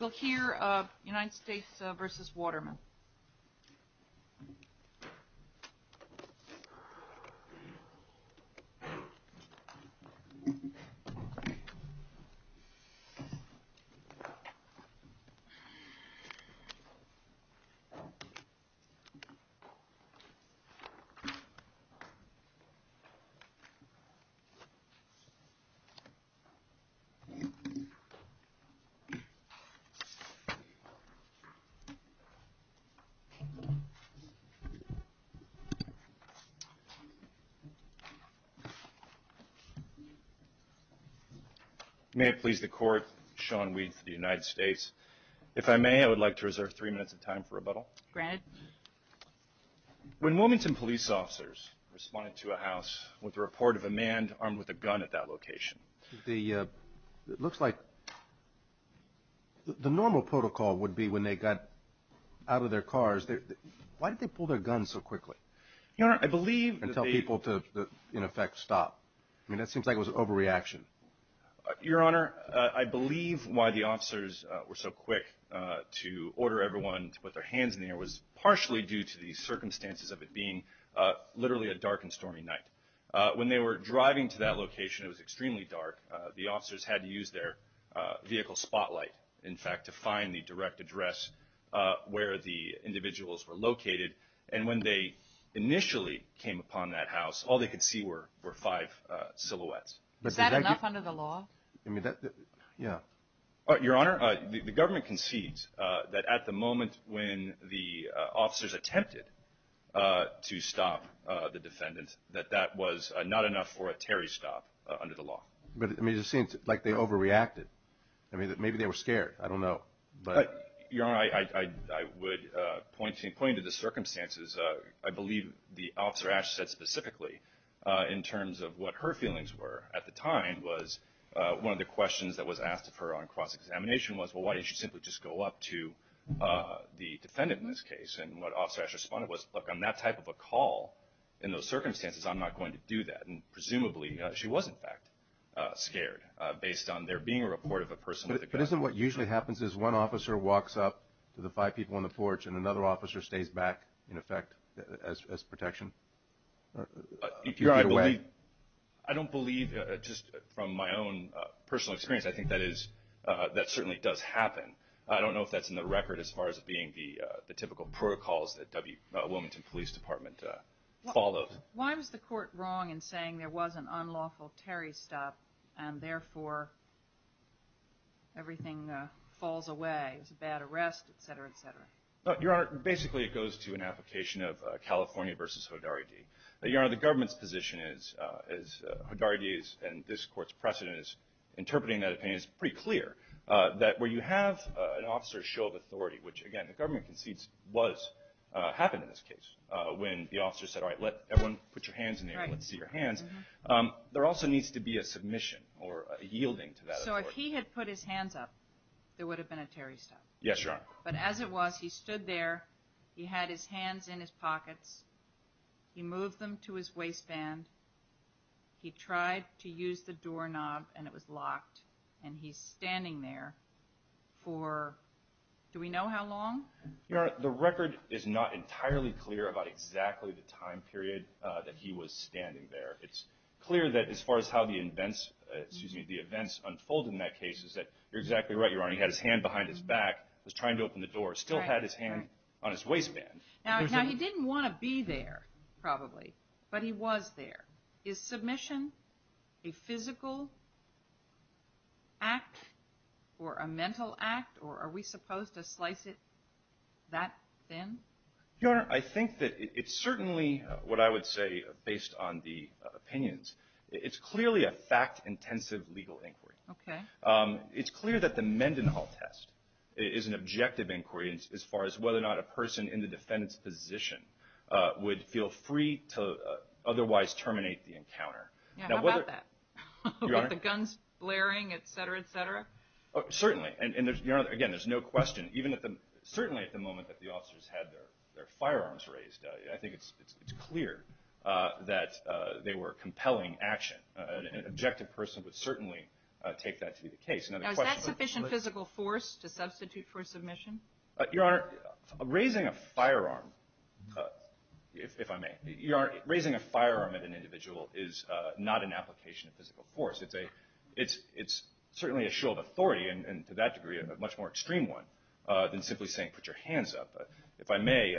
We'll hear United States v. Waterman. May it please the court, Sean Weed for the United States. If I may, I would like to reserve three minutes of time for rebuttal. Granted. When Wilmington police officers responded to a house with a report of a man armed with a gun at that location. It looks like the normal protocol would be when they got out of their cars, why did they pull their guns so quickly? Your Honor, I believe that they And tell people to, in effect, stop. I mean, that seems like it was an overreaction. Your Honor, I believe why the officers were so quick to order everyone to put their hands in the air was partially due to the circumstances of it being literally a dark and stormy night. When they were driving to that location, it was extremely dark. The officers had to use their vehicle spotlight, in fact, to find the direct address where the individuals were located. And when they initially came upon that house, all they could see were five silhouettes. Is that enough under the law? Your Honor, the government concedes that at the moment when the officers attempted to stop the defendant, that that was not enough for a Terry stop under the law. But it seems like they overreacted. I mean, maybe they were scared. I don't know. Your Honor, I would point to the circumstances. I believe the officer actually said specifically in terms of what her feelings were at the time was one of the questions that was asked of her on cross-examination was, well, why didn't you simply just go up to the defendant in this case? And what Officer Ash responded was, look, on that type of a call, in those circumstances, I'm not going to do that. And presumably, she was, in fact, scared based on there being a report of a person with a gun. But isn't what usually happens is one officer walks up to the five people on the porch and another officer stays back, in effect, as protection? Your Honor, I don't believe, just from my own personal experience, I think that certainly does happen. I don't know if that's in the record as far as being the typical protocols that Wilmington Police Department follows. Why was the court wrong in saying there was an unlawful Terry stop, and therefore, everything falls away? It was a bad arrest, et cetera, et cetera. Your Honor, basically, it goes to an application of California v. Hodarity. Your Honor, the government's position is Hodarity and this court's precedent is interpreting that opinion is pretty clear, that where you have an officer's show of authority, which again, the government concedes was, happened in this case, when the officer said, all right, let everyone put your hands in the air, let's see your hands, there also needs to be a submission or a yielding to that authority. So if he had put his hands up, there would have been a Terry stop? Yes, Your Honor. But as it was, he stood there, he had his hands in his pockets, he moved them to his and he's standing there for, do we know how long? Your Honor, the record is not entirely clear about exactly the time period that he was standing there. It's clear that as far as how the events unfolded in that case is that you're exactly right, Your Honor, he had his hand behind his back, was trying to open the door, still had his hand on his waistband. Now, he didn't want to be there, probably, but he was there. Is submission a physical act, or a mental act, or are we supposed to slice it that thin? Your Honor, I think that it's certainly what I would say, based on the opinions, it's clearly a fact-intensive legal inquiry. It's clear that the Mendenhall test is an objective inquiry as far as whether or not a person in the defendant's position would feel free to otherwise terminate the encounter. Yeah, how about that? With the guns blaring, et cetera, et cetera? Certainly, and Your Honor, again, there's no question, even at the, certainly at the moment that the officers had their firearms raised, I think it's clear that they were compelling action. An objective person would certainly take that to be the case. Now, is that sufficient physical force to substitute for submission? Your Honor, raising a firearm, if I may, Your Honor, raising a firearm at an individual is not an application of physical force. It's a, it's certainly a show of authority, and to that degree, a much more extreme one, than simply saying, put your hands up. If I may,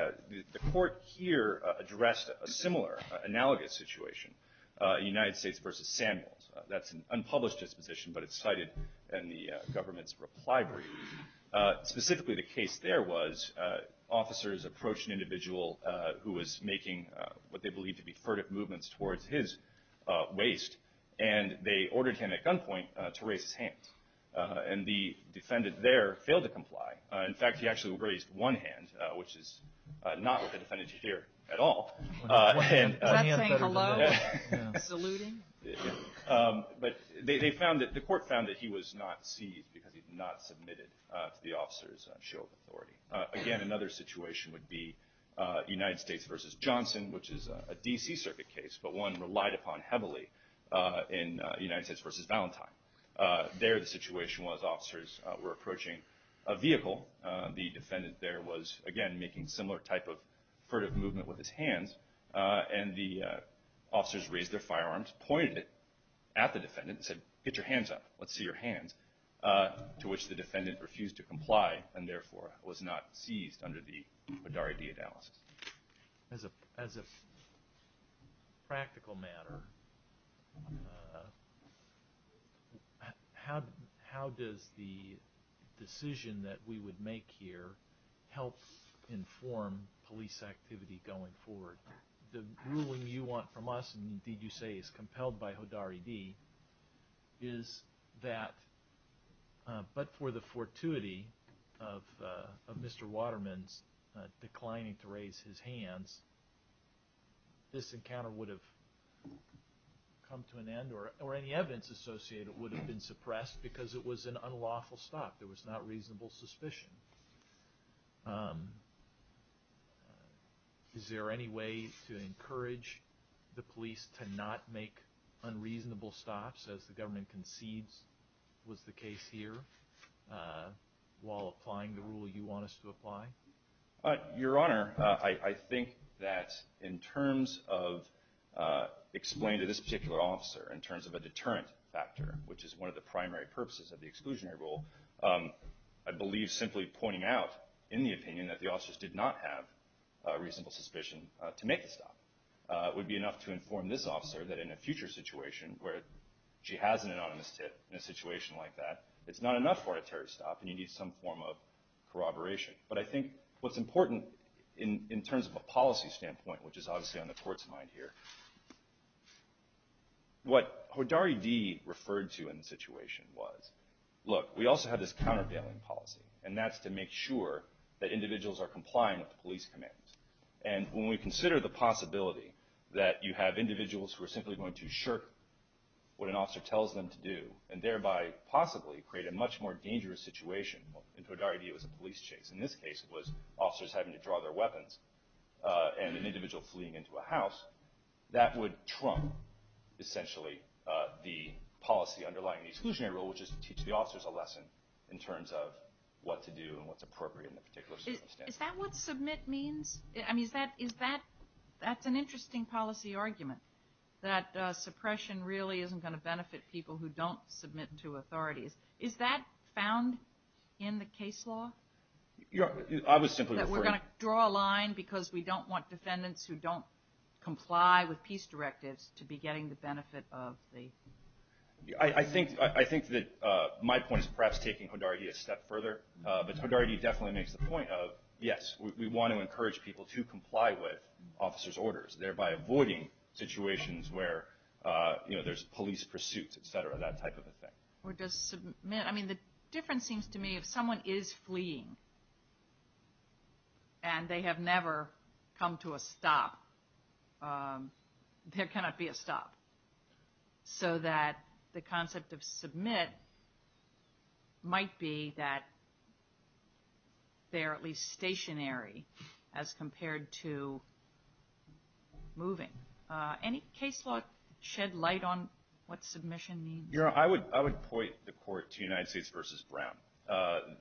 the court here addressed a similar, analogous situation, United States v. Samuels. That's an unpublished disposition, but it's cited in the government's reply brief. Specifically, the case there was, officers approached an individual who was making what they believed to be furtive movements towards his waist, and they ordered him, at gunpoint, to raise his hand. And the defendant there failed to comply. In fact, he actually raised one hand, which is not what the defendant should hear at all. Was that saying hello? Saluting? But they found that, the court found that he was not seized, because he'd not submitted to the officer's show of authority. Again, another situation would be United States v. Johnson, which is a D.C. Circuit case, but one relied upon heavily in United States v. Valentine. There, the situation was, officers were approaching a vehicle. The defendant there was, again, making similar type of furtive movement with his hands, and the officers raised their firearms, pointed it at the defendant, and said, get your hands up, let's see your hands, to which the defendant refused to comply, and therefore, was not seized under the BIDAR-ID analysis. As a practical matter, how does the decision that we would make here help inform police activity going forward? The ruling you want from us, and indeed you say is compelled by HODAR-ID, is that, but for the fortuity of Mr. Waterman's declining to raise his hands, this encounter would have come to an end, or any evidence associated would have been Is there any way to encourage the police to not make unreasonable stops, as the government concedes was the case here, while applying the rule you want us to apply? Your Honor, I think that in terms of explaining to this particular officer, in terms of a deterrent factor, which is one of the primary purposes of the exclusionary rule, I believe simply pointing out in the opinion that the officers did not have a reasonable suspicion to make a stop would be enough to inform this officer that in a future situation where she has an anonymous tip, in a situation like that, it's not enough for her to stop, and you need some form of corroboration. But I think what's important in terms of a policy standpoint, which is obviously on the Court's mind here, what HODAR-ID referred to in the situation was, look, we also have this countervailing policy, and that's to make sure that individuals are complying with the police command. And when we consider the possibility that you have individuals who are simply going to shirk what an officer tells them to do, and thereby possibly create a much more dangerous situation, HODAR-ID was a police chase. In this case, it was officers having to draw their weapons, and an individual fleeing into a house. That would trump, essentially, the policy underlying the exclusionary rule, which is to teach the officers a lesson in terms of what to do and what's appropriate in a particular circumstance. Is that what submit means? I mean, is that – that's an interesting policy argument, that suppression really isn't going to benefit people who don't submit to authorities. Is that found in the case law? I was simply referring – That we're going to draw a line because we don't want defendants who don't comply with peace directives to be getting the benefit of the – I think – I think that my point is perhaps taking HODAR-ID a step further, but HODAR-ID definitely makes the point of, yes, we want to encourage people to comply with officers' orders, thereby avoiding situations where, you know, there's police pursuit, et cetera, that type of a thing. Or does submit – I mean, the difference seems to me, if someone is fleeing, and they have never come to a stop, there cannot be a stop. So that the concept of submit might be that they are at least stationary as compared to moving. Any case law shed light on what submission means? Your Honor, I would point the court to United States v. Brown,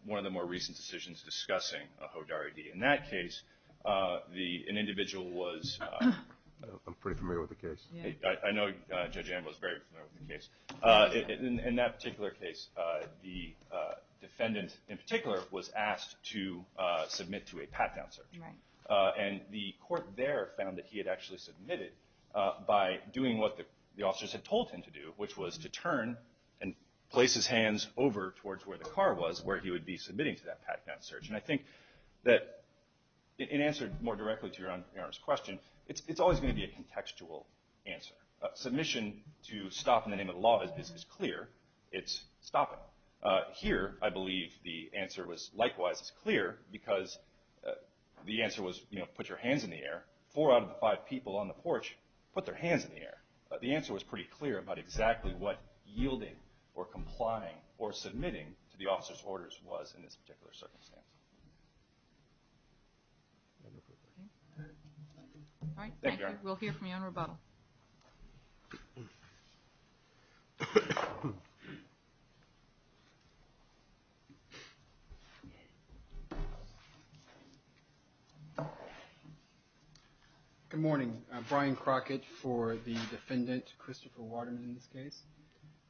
one of the more recent decisions discussing a HODAR-ID. In that case, the – an individual was – I'm pretty familiar with the case. I know Judge Ambo is very familiar with the case. In that particular case, the defendant in particular was asked to submit to a pat-down search. Right. And the court there found that he had actually submitted by doing what the officers had told him to do, which was to turn and place his hands over towards where the car was, where he would be submitting to that pat-down search. And I think that in answer more directly to Your Honor's question, it's always going to be a contextual answer. Submission to stop in the name of the law is clear. It's stopping. Here, I believe the answer was likewise as clear because the answer was, you know, put your hands in the air. Four out of the five people on the porch put their hands in the air. The answer was pretty clear about exactly what yielding or complying or submitting to All right. Thank you. We'll hear from you on rebuttal. Good morning. Brian Crockett for the defendant, Christopher Waterman, in this case.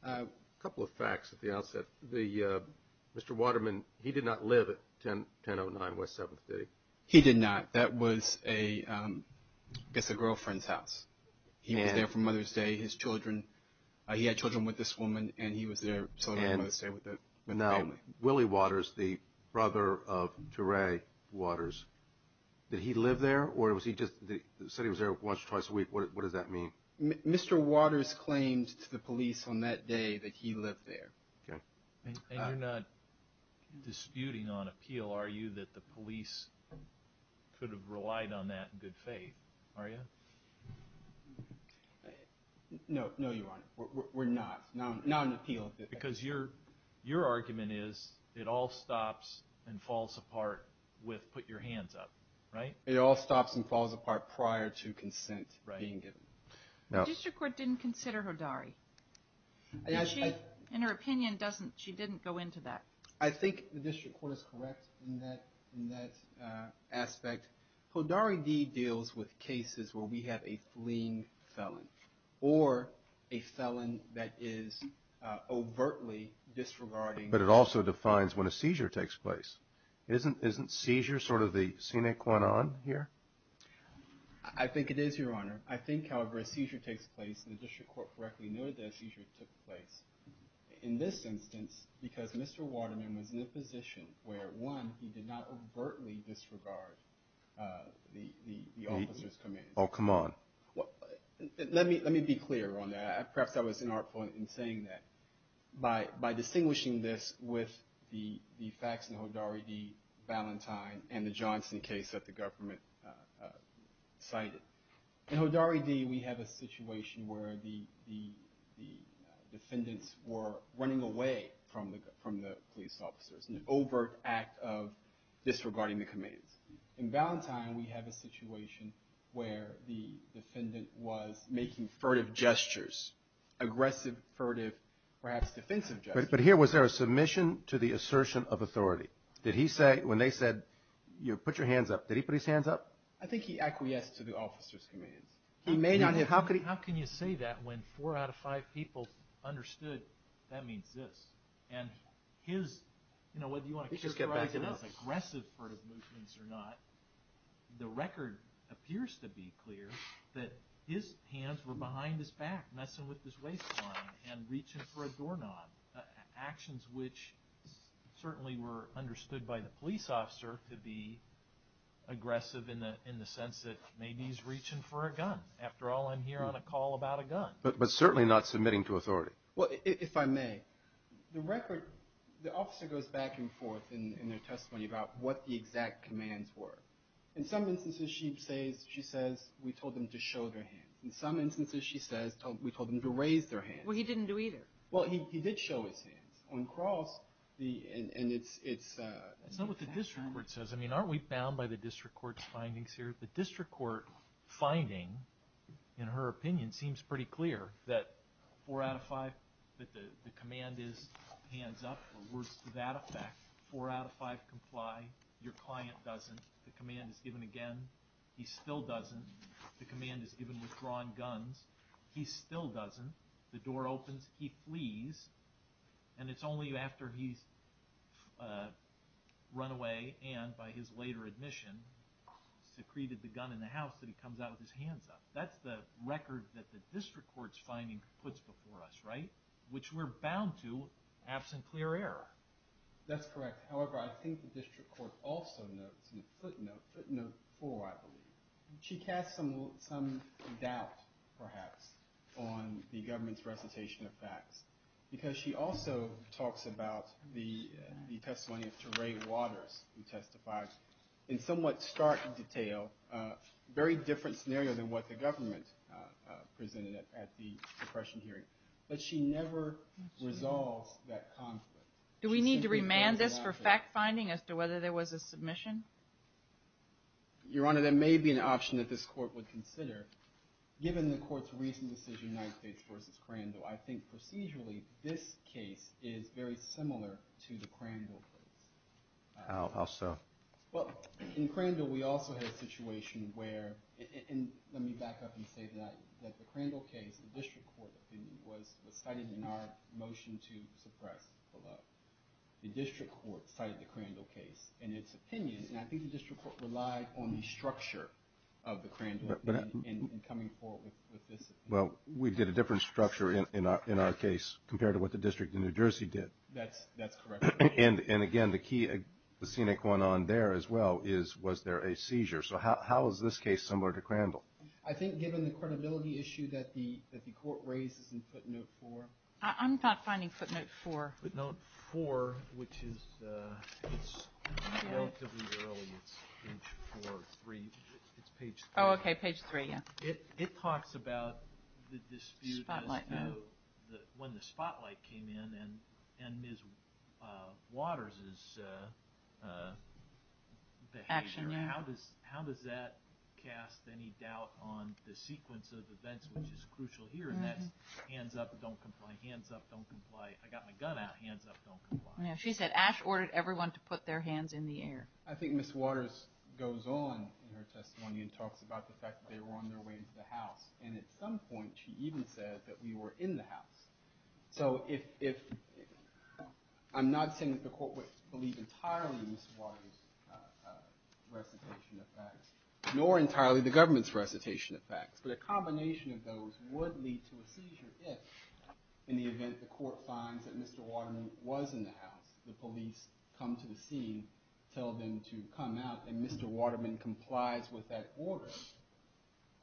A couple of facts at the outset. Mr. Waterman, he did not live at 1009 West 7th, did he? He did not. That was a girlfriend's house. He was there for Mother's Day. His children, he had children with this woman and he was there celebrating Mother's Day with the family. Now, Willie Waters, the brother of DeRay Waters, did he live there or was he just, said he was there once or twice a week? What does that mean? Mr. Waters claimed to the police on that day that he lived there. And you're not disputing on appeal, are you, that the police could have relied on that in good faith, are you? No, Your Honor. We're not. Not on appeal. Because your argument is it all stops and falls apart with put your hands up, right? It all stops and falls apart prior to consent being given. The district court didn't consider Hodari. In her opinion, she didn't go into that. I think the district court is correct in that aspect. Hodari deals with cases where we have a fleeing felon or a felon that is overtly disregarding. But it also defines when a seizure takes place. Isn't seizure sort of the scenic one on here? I think it is, Your Honor. I think, however, a seizure takes place. The district court correctly noted that a seizure took place. In this instance, because Mr. Waterman was in a position where, one, he did not overtly disregard the officer's commands. Oh, come on. Let me be clear on that. Perhaps I was inartful in saying that. By distinguishing this with the facts in the Hodari v. Valentine and the Johnson case that the government cited, in Hodari v. we have a situation where the defendants were running away from the police officers, an overt act of disregarding the commands. In Valentine, we have a situation where the defendant was making furtive gestures, aggressive, furtive, perhaps defensive gestures. But here, was there a submission to the assertion of authority? Did he say, when they said, put your hands up, did he put his hands up? I think he acquiesced to the officer's commands. He may not have. How can you say that when four out of five people understood that means this? And his, you know, whether you want to characterize it as aggressive furtive movements or not, the record appears to be clear that his hands were behind his back, messing with his waistline and reaching for a doorknob, actions which certainly were understood by the police officer to be aggressive in the sense that maybe he's reaching for a gun. After all, I'm here on a call about a gun. But certainly not submitting to authority. Well, if I may, the record, the officer goes back and forth in their testimony about what the exact commands were. In some instances, she says, we told them to show their hands. In some instances, she says, we told them to raise their hands. Well, he didn't do either. Well, he did show his hands. On cross, and it's- That's not what the district court says. I mean, aren't we bound by the district court's findings here? The district court finding, in her opinion, seems pretty clear that four out of five, that the command is hands up or words to that effect. Four out of five comply. Your client doesn't. The command is given again. He still doesn't. The command is given withdrawing guns. He still doesn't. The door opens. He flees. And it's only after he's run away, and by his later admission, secreted the gun in the house, that he comes out with his hands up. That's the record that the district court's finding puts before us, right? Which we're bound to, absent clear error. That's correct. However, I think the district court also notes, in a footnote, footnote four, I believe. She casts some doubt, perhaps, on the government's recitation of facts, because she also talks about the testimony of Trey Waters, who testified in somewhat stark detail, a very different scenario than what the government presented at the suppression hearing. But she never resolves that conflict. Do we need to remand this for fact-finding as to whether there was a submission? Your Honor, there may be an option that this court would consider. Given the court's recent decision, United States v. Crandall, I think procedurally this case is very similar to the Crandall case. How so? Well, in Crandall, we also had a situation where, and let me back up and say that the Crandall case, the district court opinion, was cited in our motion to suppress below. The district court cited the Crandall case. And its opinion, and I think the district court relied on the structure of the Crandall in coming forward with this opinion. Well, we did a different structure in our case compared to what the district in New Jersey did. That's correct. And again, the key, the scenic one on there as well is, was there a seizure? So how is this case similar to Crandall? I think given the credibility issue that the court raises in footnote four. I'm not finding footnote four. Footnote four, which is relatively early. It's page four or three. It's page three. Oh, okay, page three, yeah. It talks about the dispute as to when the spotlight came in and Ms. Waters' behavior. Action, yeah. How does that cast any doubt on the sequence of events, which is crucial here, and that's hands up, don't comply, hands up, don't comply. If I got my gun out, hands up, don't comply. Yeah, she said Ash ordered everyone to put their hands in the air. I think Ms. Waters goes on in her testimony and talks about the fact that they were on their way into the house, and at some point she even said that we were in the house. So I'm not saying that the court would believe entirely Ms. Waters' recitation of facts, nor entirely the government's recitation of facts, but a combination of those would lead to a seizure if in the event the court finds that Mr. Waterman was in the house, the police come to the scene, tell them to come out, and Mr. Waterman complies with that order.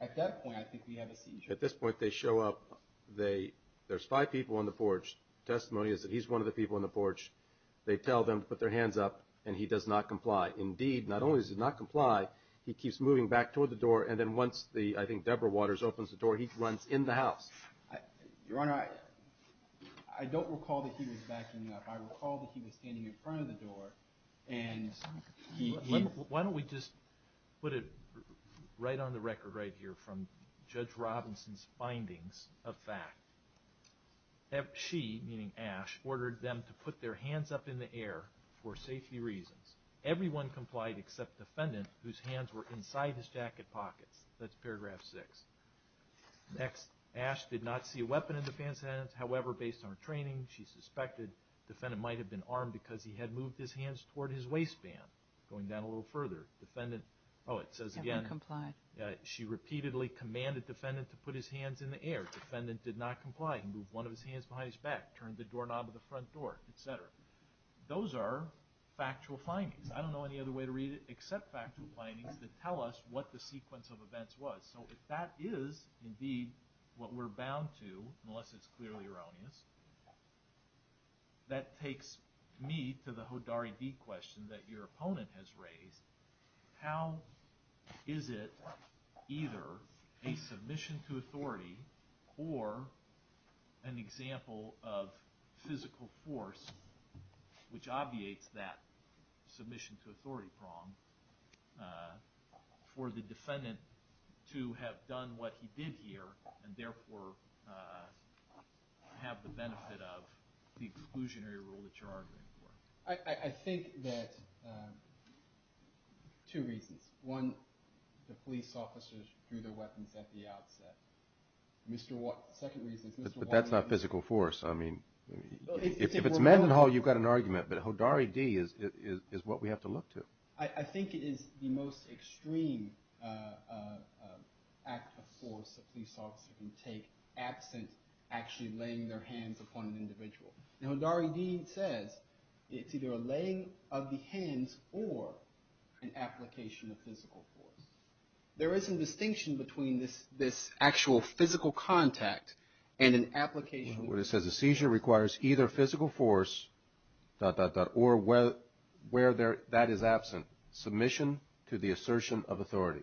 At that point I think we have a seizure. At this point they show up. There's five people on the porch. Testimony is that he's one of the people on the porch. They tell them to put their hands up, and he does not comply. Indeed, not only does he not comply, he keeps moving back toward the door, and then once I think Deborah Waters opens the door, he runs in the house. Your Honor, I don't recall that he was backing up. I recall that he was standing in front of the door, and he... Why don't we just put it right on the record right here from Judge Robinson's findings of fact. She, meaning Ash, ordered them to put their hands up in the air for safety reasons. Everyone complied except the defendant, whose hands were inside his jacket pockets. That's paragraph six. Next, Ash did not see a weapon in the defendant's hands. However, based on her training, she suspected the defendant might have been armed because he had moved his hands toward his waistband. Going down a little further, the defendant... Oh, it says again... Never complied. She repeatedly commanded the defendant to put his hands in the air. The defendant did not comply. He moved one of his hands behind his back, turned the doorknob of the front door, etc. Those are factual findings. I don't know any other way to read it except factual findings that tell us what the sequence of events was. So if that is indeed what we're bound to, unless it's clearly erroneous, that takes me to the Hodari D question that your opponent has raised. How is it either a submission to authority or an example of physical force which obviates that submission to authority prong for the defendant to have done what he did here and therefore have the benefit of the exclusionary rule that you're arguing for? I think that two reasons. One, the police officers drew their weapons at the outset. The second reason is... But that's not physical force. I mean, if it's Mendenhall, you've got an argument, but Hodari D is what we have to look to. I think it is the most extreme act of force a police officer can take absent actually laying their hands upon an individual. And Hodari D says it's either a laying of the hands or an application of physical force. There is a distinction between this actual physical contact and an application... Well, it says a seizure requires either physical force, dot, dot, dot, or where that is absent, submission to the assertion of authority.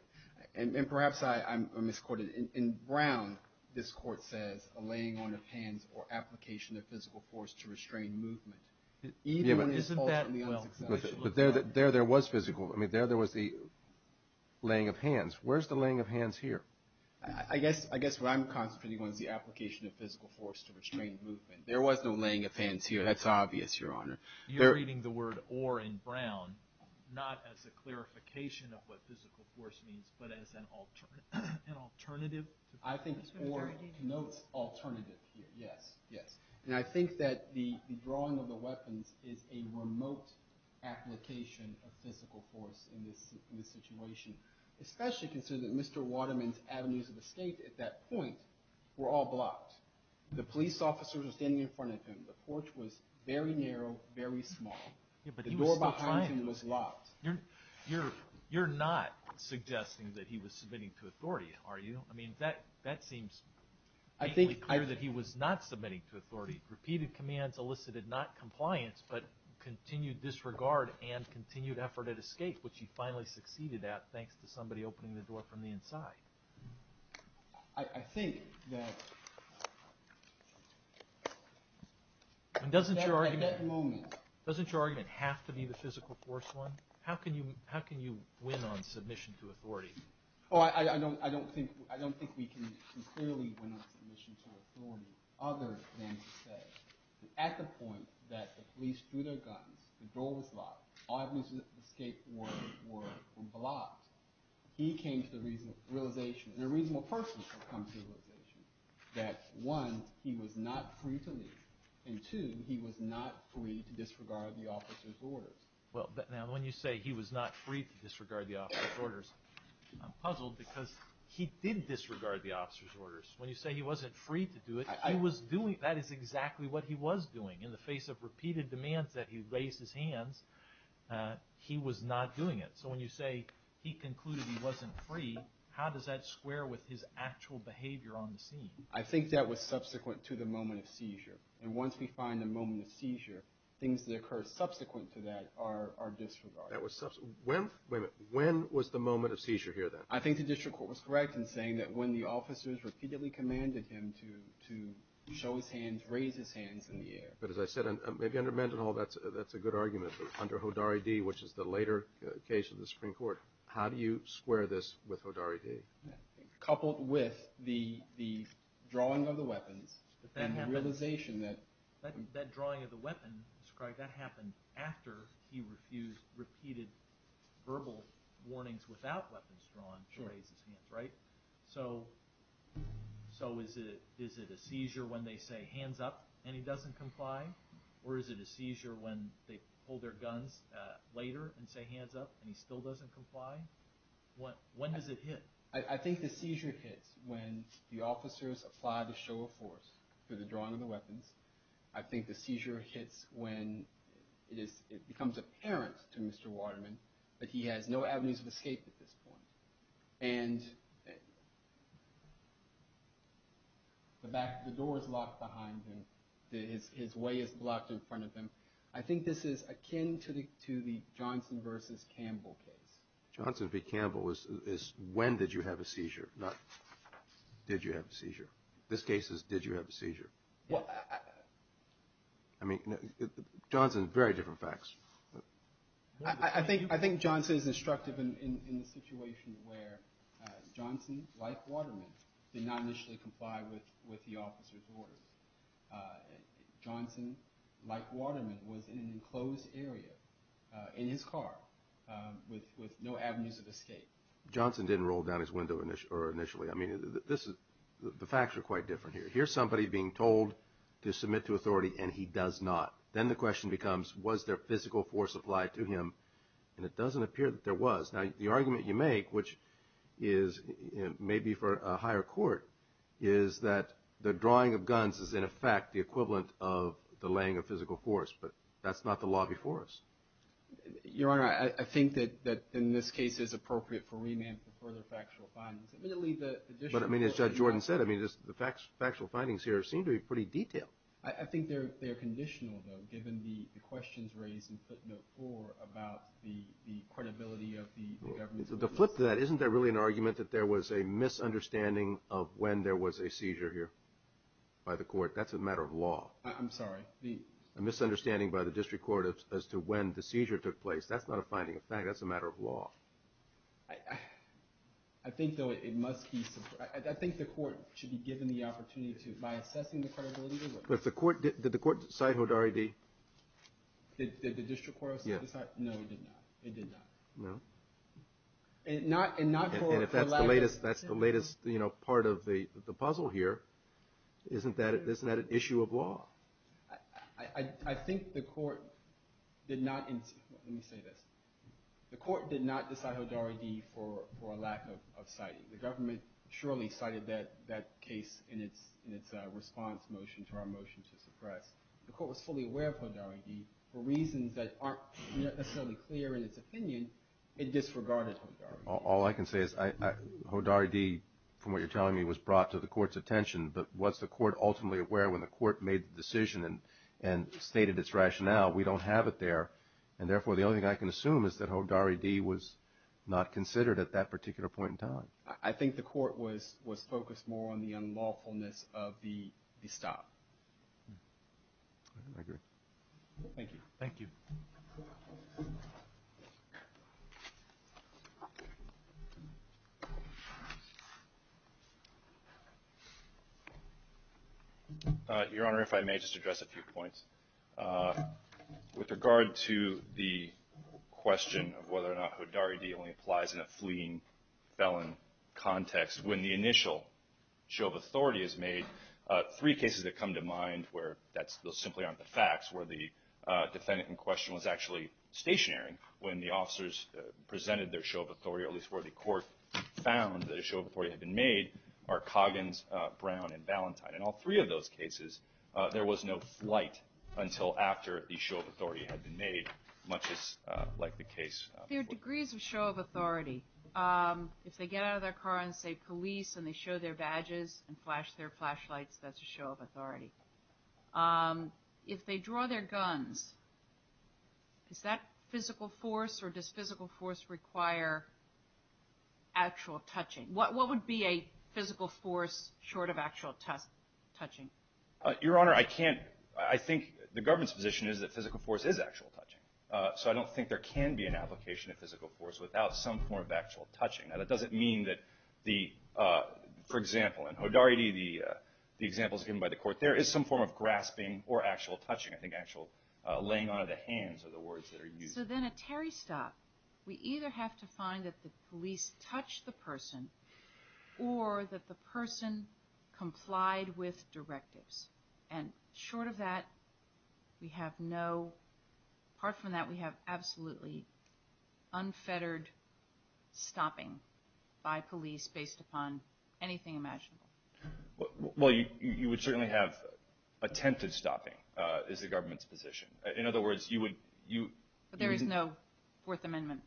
And perhaps I misquoted. In Brown, this court says a laying on of hands or application of physical force to restrain movement. But there there was physical. I mean, there there was the laying of hands. Where's the laying of hands here? I guess what I'm concentrating on is the application of physical force to restrain movement. There was no laying of hands here. That's obvious, Your Honor. You're reading the word or in Brown not as a clarification of what physical force means but as an alternative. I think Orr notes alternative here. Yes, yes. And I think that the drawing of the weapons is a remote application of physical force in this situation. Especially considering that Mr. Waterman's avenues of escape at that point were all blocked. The police officers were standing in front of him. The porch was very narrow, very small. The door behind him was locked. You're not suggesting that he was submitting to authority, are you? I mean, that seems clearly clear that he was not submitting to authority. Repeated commands elicited not compliance but continued disregard and continued effort at escape, which he finally succeeded at thanks to somebody opening the door from the inside. I think that at that moment. Doesn't your argument have to be the physical force one? How can you win on submission to authority? Oh, I don't think we can clearly win on submission to authority other than to say that at the point that the police threw their guns, the door was locked, all avenues of escape were blocked, he came to the realization, and a reasonable person comes to the realization that, one, he was not free to leave, and two, he was not free to disregard the officer's orders. Well, now when you say he was not free to disregard the officer's orders, I'm puzzled because he did disregard the officer's orders. When you say he wasn't free to do it, he was doing it. That is exactly what he was doing. In the face of repeated demands that he raised his hands, he was not doing it. So when you say he concluded he wasn't free, how does that square with his actual behavior on the scene? I think that was subsequent to the moment of seizure, and once we find the moment of seizure, things that occur subsequent to that are disregarded. That was subsequent. Wait a minute. When was the moment of seizure here then? I think the district court was correct in saying that when the officers repeatedly commanded him to show his hands, raise his hands in the air. But as I said, maybe under Mendenhall that's a good argument, but under Hodari D., which is the later case of the Supreme Court, how do you square this with Hodari D.? Coupled with the drawing of the weapons and the realization that— That drawing of the weapon, Mr. Craig, that happened after he repeated verbal warnings without weapons drawn to raise his hands, right? So is it a seizure when they say, hands up, and he doesn't comply? Or is it a seizure when they pull their guns later and say, hands up, and he still doesn't comply? When does it hit? I think the seizure hits when the officers apply the show of force through the drawing of the weapons. I think the seizure hits when it becomes apparent to Mr. Waterman that he has no avenues of escape at this point. And the door is locked behind him. His way is blocked in front of him. I think this is akin to the Johnson v. Campbell case. Johnson v. Campbell is when did you have a seizure, not did you have a seizure. This case is did you have a seizure. I mean, Johnson, very different facts. I think Johnson is instructive in the situation where Johnson, like Waterman, was in an enclosed area in his car with no avenues of escape. Johnson didn't roll down his window initially. I mean, the facts are quite different here. Here's somebody being told to submit to authority, and he does not. Then the question becomes, was there physical force applied to him? And it doesn't appear that there was. Now, the argument you make, which is maybe for a higher court, is that the drawing of guns is, in effect, the equivalent of the laying of physical force. But that's not the law before us. Your Honor, I think that in this case it's appropriate for remand for further factual findings. But, I mean, as Judge Jordan said, the factual findings here seem to be pretty detailed. I think they're conditional, though, given the questions raised in footnote four about the credibility of the government. To flip that, isn't there really an argument that there was a misunderstanding of when there was a seizure here by the court? That's a matter of law. I'm sorry? A misunderstanding by the district court as to when the seizure took place. That's not a finding of fact. That's a matter of law. I think, though, it must be. I think the court should be given the opportunity to, by assessing the credibility. But did the court cite Hodari-D? Did the district court cite Hodari-D? No, it did not. It did not. No? And if that's the latest part of the puzzle here, isn't that an issue of law? I think the court did not. Let me say this. The court did not cite Hodari-D for a lack of citing. The government surely cited that case in its response motion to our motion to suppress. The court was fully aware of Hodari-D for reasons that aren't necessarily clear in its opinion. It disregarded Hodari-D. All I can say is Hodari-D, from what you're telling me, was brought to the court's attention. But was the court ultimately aware when the court made the decision and stated its rationale? We don't have it there. And, therefore, the only thing I can assume is that Hodari-D was not considered at that particular point in time. I think the court was focused more on the unlawfulness of the stop. I agree. Thank you. Thank you. Your Honor, if I may just address a few points. With regard to the question of whether or not Hodari-D only applies in a fleeing felon context, when the initial show of authority is made, three cases that come to mind where those simply aren't the facts, where the defendant in question was actually stationary when the officers presented their show of authority, or at least where the court found that a show of authority had been made, are Coggins, Brown, and Valentine. In all three of those cases, there was no flight until after the show of authority had been made, much like the case before. There are degrees of show of authority. If they get out of their car and say, police, and they show their badges and flash their flashlights, that's a show of authority. If they draw their guns, is that physical force or does physical force require actual touching? What would be a physical force short of actual touching? Your Honor, I think the government's position is that physical force is actual touching, so I don't think there can be an application of physical force without some form of actual touching. That doesn't mean that, for example, in Hodari-D, the examples given by the court, there is some form of grasping or actual touching, I think actual laying on of the hands are the words that are used. So then at Terry's stop, we either have to find that the police touched the person or that the person complied with directives. And short of that, we have no – apart from that, we have absolutely unfettered stopping by police based upon anything imaginable. Well, you would certainly have attempted stopping, is the government's position. In other words, you would – But there is no Fourth Amendment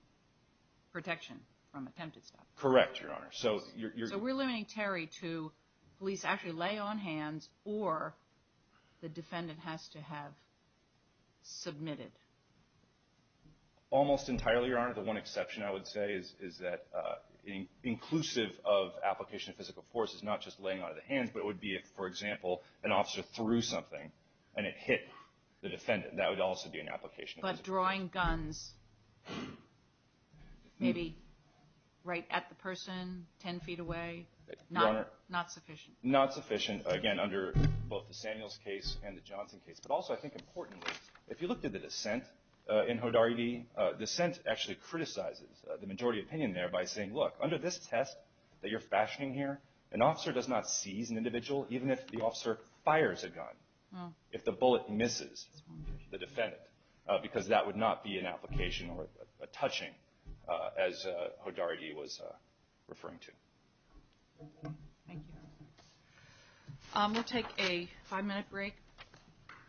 protection from attempted stopping. Correct, Your Honor. So we're limiting Terry to police actually lay on hands or the defendant has to have submitted. Almost entirely, Your Honor. The one exception I would say is that inclusive of application of physical force is not just laying on of the hands, but it would be if, for example, an officer threw something and it hit the defendant. That would also be an application of physical force. But drawing guns maybe right at the person, 10 feet away, not sufficient. Not sufficient, again, under both the Samuels case and the Johnson case. But also I think importantly, if you looked at the dissent in Hodari-D, dissent actually criticizes the majority opinion there by saying, look, under this test that you're fashioning here, an officer does not seize an individual even if the officer fires a gun, if the bullet misses the defendant. Because that would not be an application or a touching, as Hodari-D was referring to. Thank you. We'll take a five-minute break.